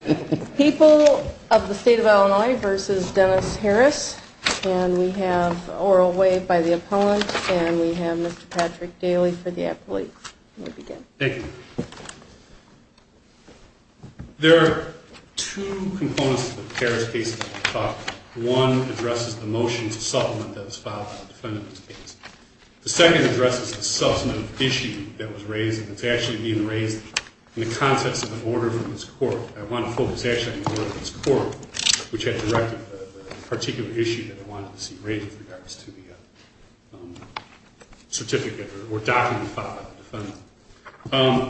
There are two components to the Harris case that I will talk about. One addresses the motion to supplement that was filed by the defendant in this case. The second addresses the substantive issue that was raised, and it's actually being raised in the context of an order from this court. I want to talk about that a little bit more.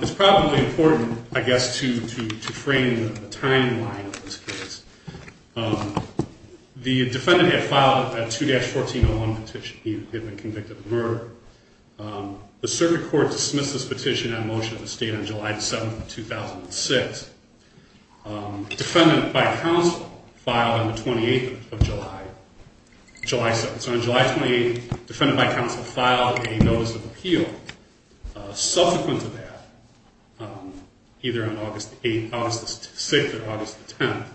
It's probably important, I guess, to frame the timeline of this case. The defendant had filed a 2-1401 petition. He had been convicted of murder. The circuit court dismissed this petition on motion of the state on July 7, 2006. Defendant by counsel filed on the 28th of July, July 7th. So on July 28th, defendant by counsel filed a notice of appeal. Subsequent to that, either on August 6th or August 10th,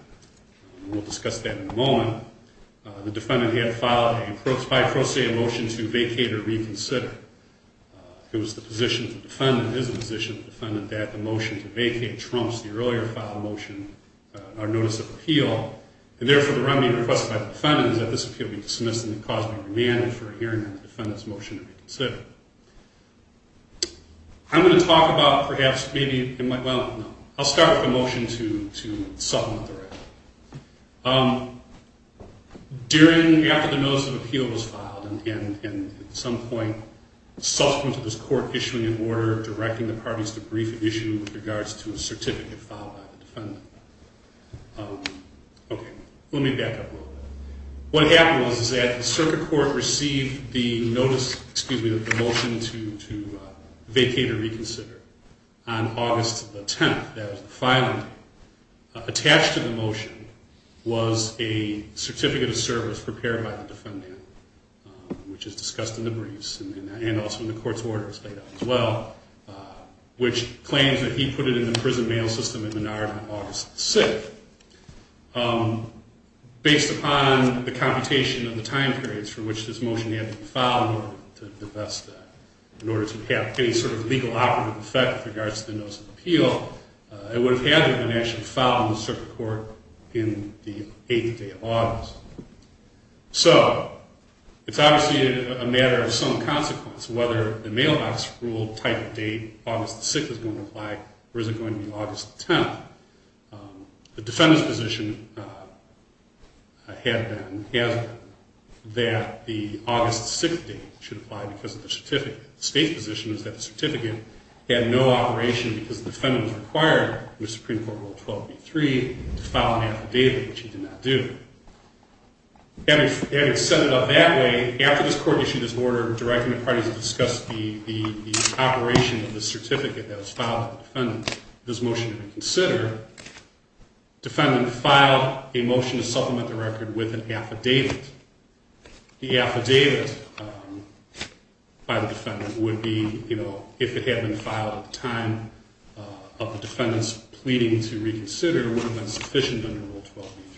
and we'll discuss that in a moment, the defendant had filed a pro se motion to vacate or reconsider. It was the position of the defendant, it is the position of the defendant that the motion to vacate trumps the earlier filed motion, our notice of appeal, and therefore the remedy requested by the defendant is that this appeal be dismissed and the cause be remanded for a hearing on the defendant's motion to reconsider. I'm going to talk about, perhaps, maybe, well, no. I'll start with the motion to supplement the remedy. During, after the notice of appeal was filed, and at some point subsequent to this court issuing an order directing the parties to brief an issue with regards to a certificate filed by the defendant. Okay, let me back up a little bit. What happened was that the circuit court received the notice, excuse me, the motion to vacate or reconsider on August 10th. That was the filing date. Attached to the motion was a certificate of service prepared by the defendant, which is discussed in the briefs and also in the court's orders laid out as well, which claims that he put it in the prison mail system in Menard on August 10th. Based upon the computation of the time periods for which this motion had to be filed in order to divest that, in order to have any sort of legal operative effect with regards to the notice of appeal, it would have had to have been actually filed in the circuit court in the eighth day of August. So, it's obviously a matter of some consequence whether the mail office ruled type of date August 6th was going to apply or is it going to be August 10th. The defendant's position had been, has been, that the August 6th date should apply because of the certificate. The state's position is that the certificate had no operation because the defendant was required in the Supreme Court Rule 12-B-3 to file an affidavit, which he did not do. Having set it up that way, after this court issued this order directing the parties to discuss the operation of the certificate that was filed with the defendant, this motion to reconsider, the defendant filed a motion to supplement the record with an affidavit. The affidavit by the defendant would be, you know, if it had been filed at the time of the defendant's pleading to reconsider, it would have been sufficient under Rule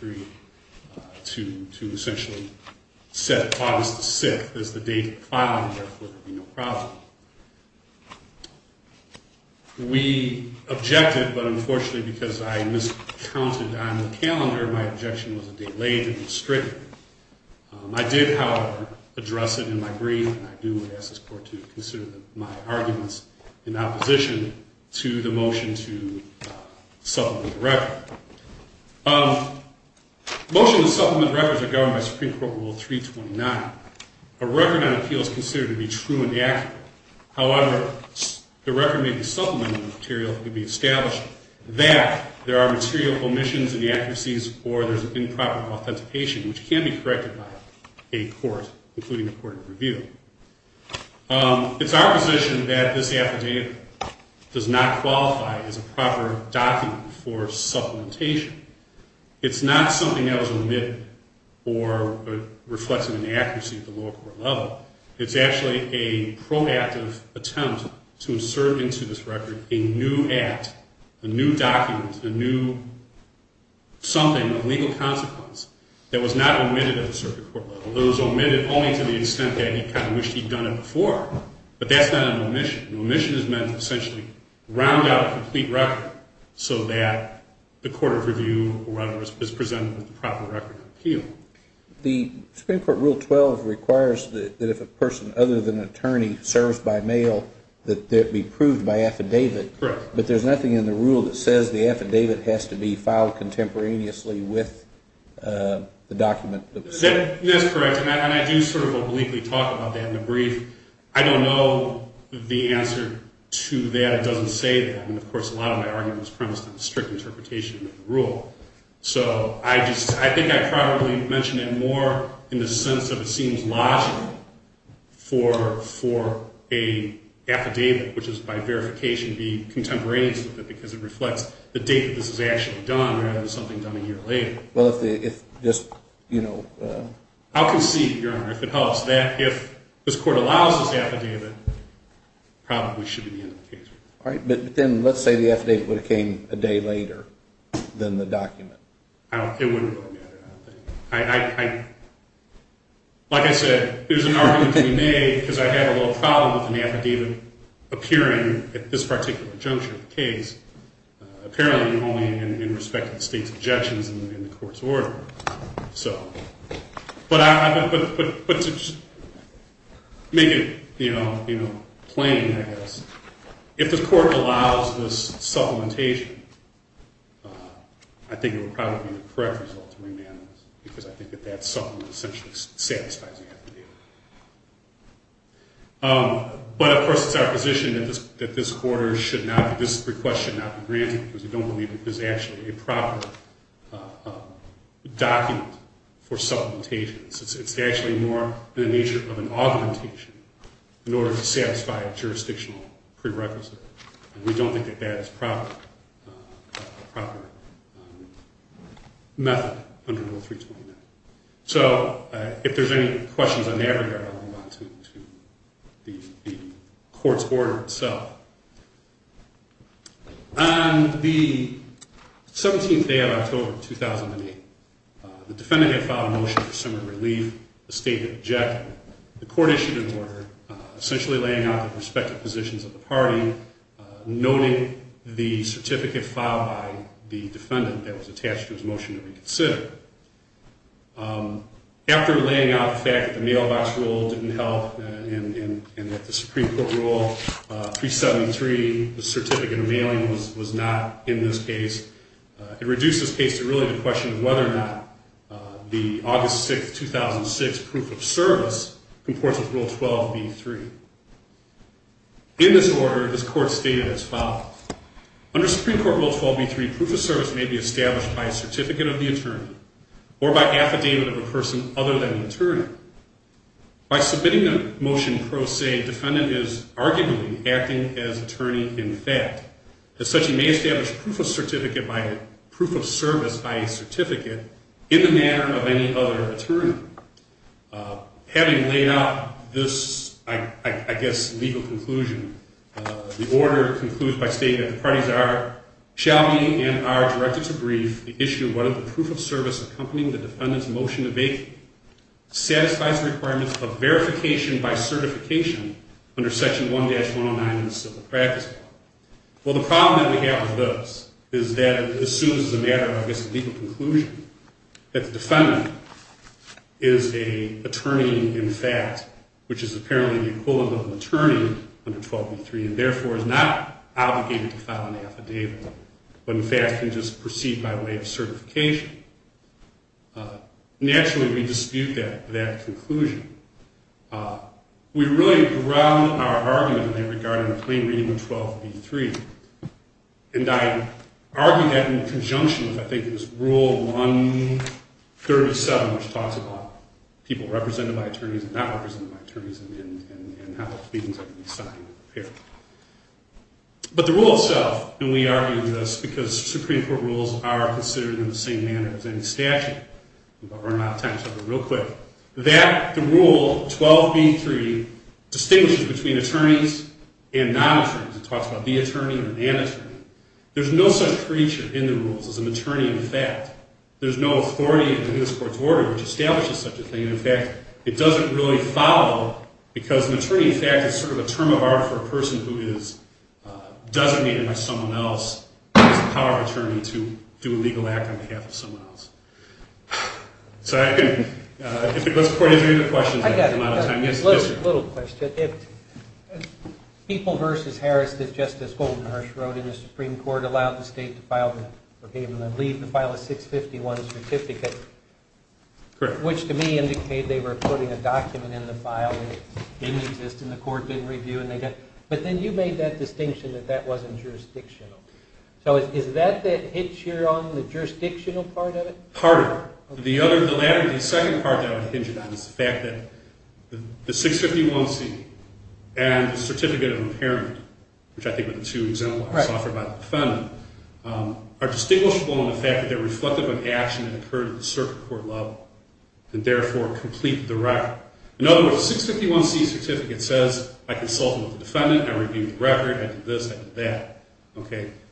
12-B-3 to essentially set August 6th as the date to file and therefore there would be no problem. We objected, but unfortunately because I miscounted on the calendar, my objection was delayed and was stricken. I did, however, address it in my brief and I do ask this court to consider my arguments in opposition to the motion to supplement the record. Motion to supplement records are governed by Supreme Court Rule 329. A record on appeal is considered to be true and accurate. However, the record may be supplemented with material that could be established that there are material omissions in the accuracies or there is improper authentication, which can be corrected by a court, including a court of review. It's our position that this affidavit does not qualify as a proper document for supplementation. It's not something that was omitted or reflects an inaccuracy at the lower court level. It's actually a proactive attempt to insert into this record a new act, a new document, a new something of legal consequence that was not omitted at the circuit court level. It was omitted only to the extent that he kind of wished he'd done it before, but that's not an omission. An omission is meant to essentially round out a complete record so that the court of review is presented with the proper record of appeal. The Supreme Court Rule 12 requires that if a person other than an attorney serves by mail, that it be proved by affidavit. Correct. But there's nothing in the rule that says the affidavit has to be filed contemporaneously with the document. That's correct, and I do sort of obliquely talk about that in the brief. I don't know the answer to that. It doesn't say that. And, of course, a lot of my argument is premised on the strict interpretation of the rule. So I think I probably mentioned it more in the sense that it seems logical for an affidavit, which is by verification, be contemporaneous with it because it reflects the date that this was actually done rather than something done a year later. I'll concede, Your Honor, if it helps, that if this court allows this affidavit, it probably should be the end of the case. All right, but then let's say the affidavit would have came a day later than the document. It wouldn't really matter, I don't think. Like I said, there's an argument to be made because I have a little problem with an affidavit appearing at this particular juncture of the case, apparently only in respect to the state's objections and the court's order. But to make it plain, I guess, if the court allows this supplementation, I think it would probably be the correct result to remand this because I think that that supplement essentially satisfies the affidavit. But, of course, it's our position that this request should not be granted because we don't believe that this is actually a proper document for supplementation. It's actually more in the nature of an augmentation in order to satisfy a jurisdictional prerequisite. We don't think that that is a proper method under Rule 329. So if there's any questions on that regard, I'll move on to the court's order itself. On the 17th day of October 2008, the defendant had filed a motion for some relief. The state had objected. The court issued an order essentially laying out the respective positions of the party, noting the certificate filed by the defendant that was attached to his motion to reconsider. After laying out the fact that the mailbox rule didn't help and that the Supreme Court Rule 373, the certificate of mailing, was not in this case, it reduced this case to really the question of whether or not the August 6, 2006 proof of service comports with Rule 12b3. In this order, this court stated as follows. Under Supreme Court Rule 12b3, proof of service may be established by a certificate of the attorney or by affidavit of a person other than the attorney. By submitting a motion pro se, defendant is arguably acting as attorney in fact. As such, he may establish proof of service by a certificate in the manner of any other attorney. Having laid out this, I guess, legal conclusion, the order concludes by stating that the parties are, shall be and are directed to brief the issue of whether the proof of service accompanying the defendant's motion to vacate satisfies the requirements of verification by certification under Section 1-109 of the Civil Practice Law. Well, the problem that we have with this is that it assumes as a matter of, I guess, legal conclusion that the defendant is an attorney in fact, which is apparently the equivalent of an attorney under 12b3 and therefore is not obligated to file an affidavit, but in fact can just proceed by way of certification. Naturally, we dispute that conclusion. We really ground our argument in there regarding the plain reading of 12b3, and I argue that in conjunction with I think it was Rule 137 which talks about people represented by attorneys and not represented by attorneys and how the pleadings are going to be signed and prepared. But the rule itself, and we argue this because Supreme Court rules are considered in the same manner as any statute, I'm going to run out of time so I'll go real quick, that the rule 12b3 distinguishes between attorneys and non-attorneys. It talks about the attorney and the non-attorney. There's no such creature in the rules as an attorney in fact. There's no authority in this court's order which establishes such a thing. In fact, it doesn't really follow because an attorney in fact is sort of a term of art for a person who is designated by someone else as a power of attorney to do a legal act on behalf of someone else. So let's go ahead and read the questions. I've got a little question. If People v. Harris that Justice Goldenhurst wrote in the Supreme Court allowed the state to file, or gave them the leave to file a 651 certificate, which to me indicated they were putting a document in the file that didn't exist and the court didn't review it, but then you made that distinction that that wasn't jurisdictional. So is that that hitch here on the jurisdictional part of it? Part of it. The second part that I would hinge on is the fact that the 651c and the certificate of impairment, which I think are the two exemplars offered by the defendant, are distinguishable in the fact that they're reflective of action that occurred at the circuit court level and therefore complete the record. In other words, 651c certificate says I consulted with the defendant, I reviewed the record, I did this, I did that.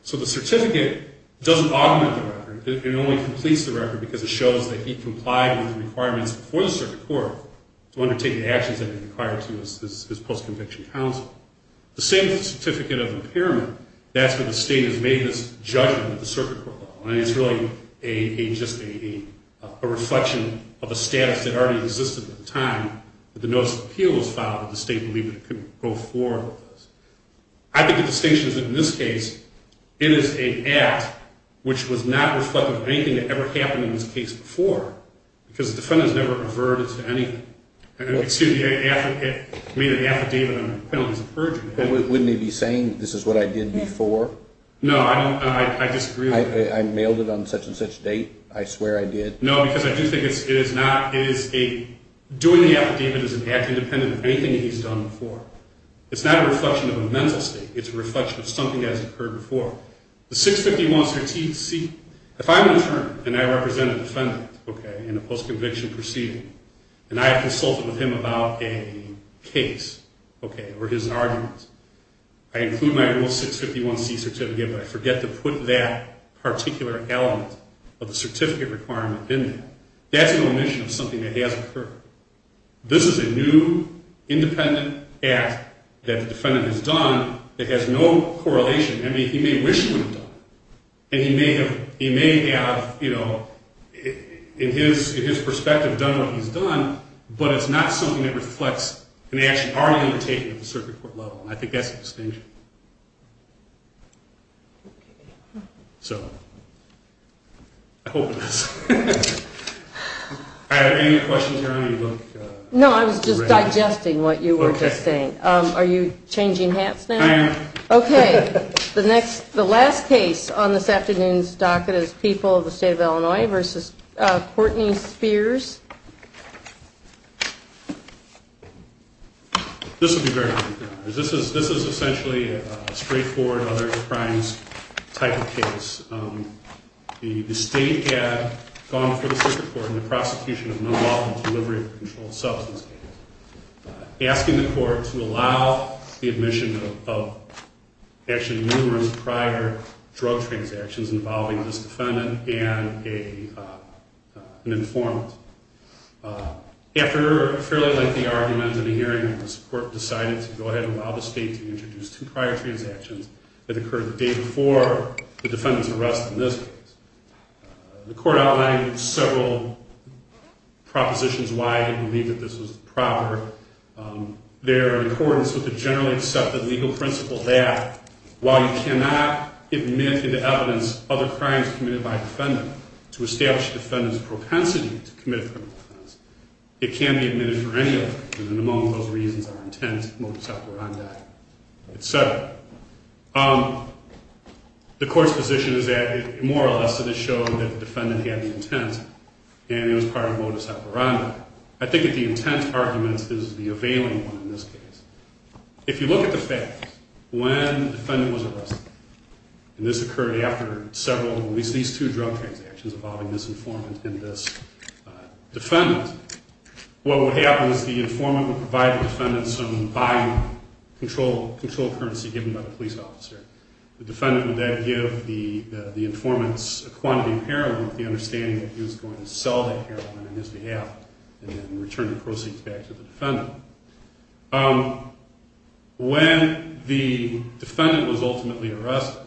So the certificate doesn't augment the record. It only completes the record because it shows that he complied with the requirements before the circuit court to undertake the actions that he required to as post-conviction counsel. The same with the certificate of impairment, that's where the state has made this judgment at the circuit court level, and it's really just a reflection of a status that already existed at the time that the notice of appeal was filed that the state believed it could go forward with this. I think the distinction is that in this case, it is an act which was not reflective of anything that ever happened in this case before because the defendant has never averted to anything. Excuse me, it made an affidavit on the penalty of perjury. Wouldn't he be saying this is what I did before? No, I disagree with that. I mailed it on such and such date, I swear I did. No, because I do think it is not, it is a, doing the affidavit is an act independent of anything that he's done before. It's not a reflection of a mental state, it's a reflection of something that has occurred before. The 651C, if I'm an attorney and I represent a defendant, okay, in a post-conviction proceeding, and I have consulted with him about a case, okay, or his argument, I include my rule 651C certificate, but I forget to put that particular element of the certificate requirement in there. That's an omission of something that has occurred. This is a new independent act that the defendant has done that has no correlation. I mean, he may wish he would have done it, and he may have, you know, in his perspective done what he's done, but it's not something that reflects an action already undertaken at the circuit court level, and I think that's a distinction. So, I hope it is. All right, are there any questions here? No, I was just digesting what you were just saying. Okay. Are you changing hats now? I am. Okay. The next, the last case on this afternoon's docket is People of the State of Illinois versus Courtney Spears. This would be very good. This is essentially a straightforward, other crimes type of case. The state had gone for the circuit court in the prosecution of nonvoluntary delivery of a controlled substance case, asking the court to allow the admission of actually numerous prior drug transactions involving this defendant and an informant. After a fairly lengthy argument and a hearing, this court decided to go ahead and allow the state to introduce two prior transactions that occurred the day before the defendant's arrest in this case. The court outlined several propositions why it believed that this was proper. Their accordance with the generally accepted legal principle that while you cannot admit into evidence other crimes committed by a defendant to establish the defendant's propensity to commit a criminal offense, it can be admitted for any other reason, and among those reasons are intent, modus operandi, et cetera. The court's position is that more or less it is showing that the defendant had the intent and it was part of modus operandi. I think that the intent argument is the availing one in this case. If you look at the facts, when the defendant was arrested, and this occurred after several, at least these two drug transactions involving this informant and this defendant, what would happen is the informant would provide the defendant some buy-in control currency given by the police officer. The defendant would then give the informant's quantity of heroin with the understanding that he was going to sell that heroin on his behalf and then return the proceeds back to the defendant. When the defendant was ultimately arrested,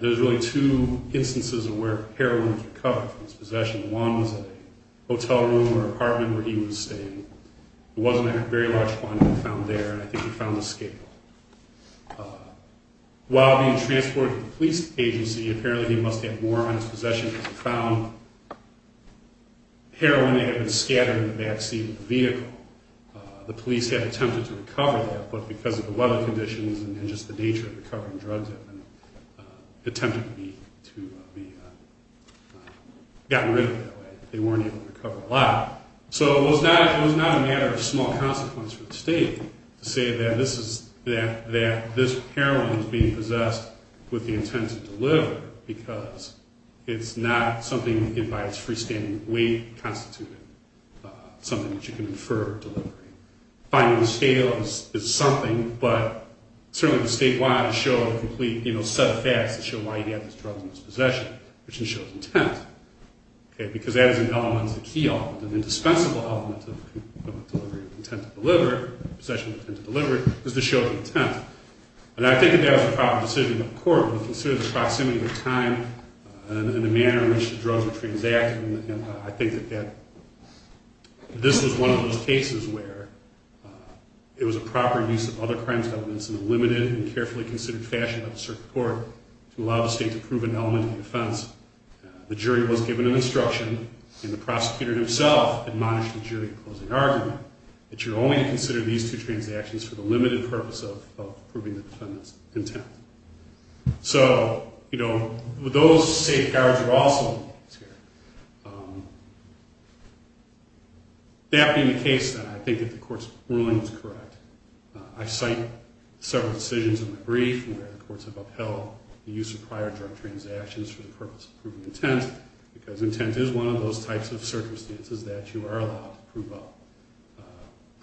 there's really two instances of where heroin was recovered from his possession. One was in a hotel room or apartment where he was staying. It wasn't a very large quantity found there, and I think he found a scapegoat. While being transported to the police agency, apparently he must have more on his possession because he found heroin that had been scattered in the backseat of the vehicle. The police had attempted to recover that, but because of the weather conditions and just the nature of recovering drugs, it attempted to be gotten rid of that way. They weren't able to recover a lot. So it was not a matter of small consequence for the state to say that this heroin was being possessed with the intent to deliver because it's not something by its freestanding weight constituted something that you can infer delivery. Finding the scale is something, but certainly the statewide has shown a complete set of facts that show why he had this drug in his possession, which then shows intent. Because that is an element, a key element, an indispensable element of the delivery of intent to deliver, possession of intent to deliver, is the show of intent. I think that that was a proper decision of the court when it considered the proximity of time and the manner in which the drugs were transacted. And I think that this was one of those cases where it was a proper use of other crimes evidence in a limited and carefully considered fashion by the circuit court to allow the state to prove an element of the offense. The jury was given an instruction, and the prosecutor himself admonished the jury in closing argument that you're only to consider these two transactions for the limited purpose of proving the defendant's intent. So, you know, those safeguards are also involved here. That being the case, then, I think that the court's ruling is correct. I cite several decisions in the brief where the courts have upheld the use of prior drug transactions for the purpose of proving intent, because intent is one of those types of circumstances that you are allowed to prove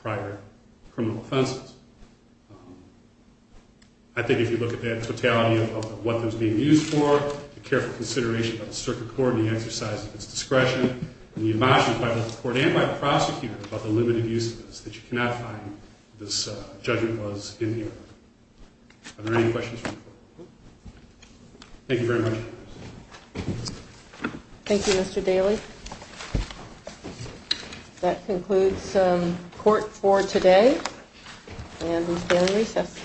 prior criminal offenses. I think if you look at the totality of what those being used for, the careful consideration of the circuit court and the exercise of its discretion, and the admonishment by both the court and by the prosecutor about the limited use of this, that you cannot find what this judgment was in here. Are there any questions from the court? Thank you very much. Thank you, Mr. Daly. That concludes court for today. And we stand recessed.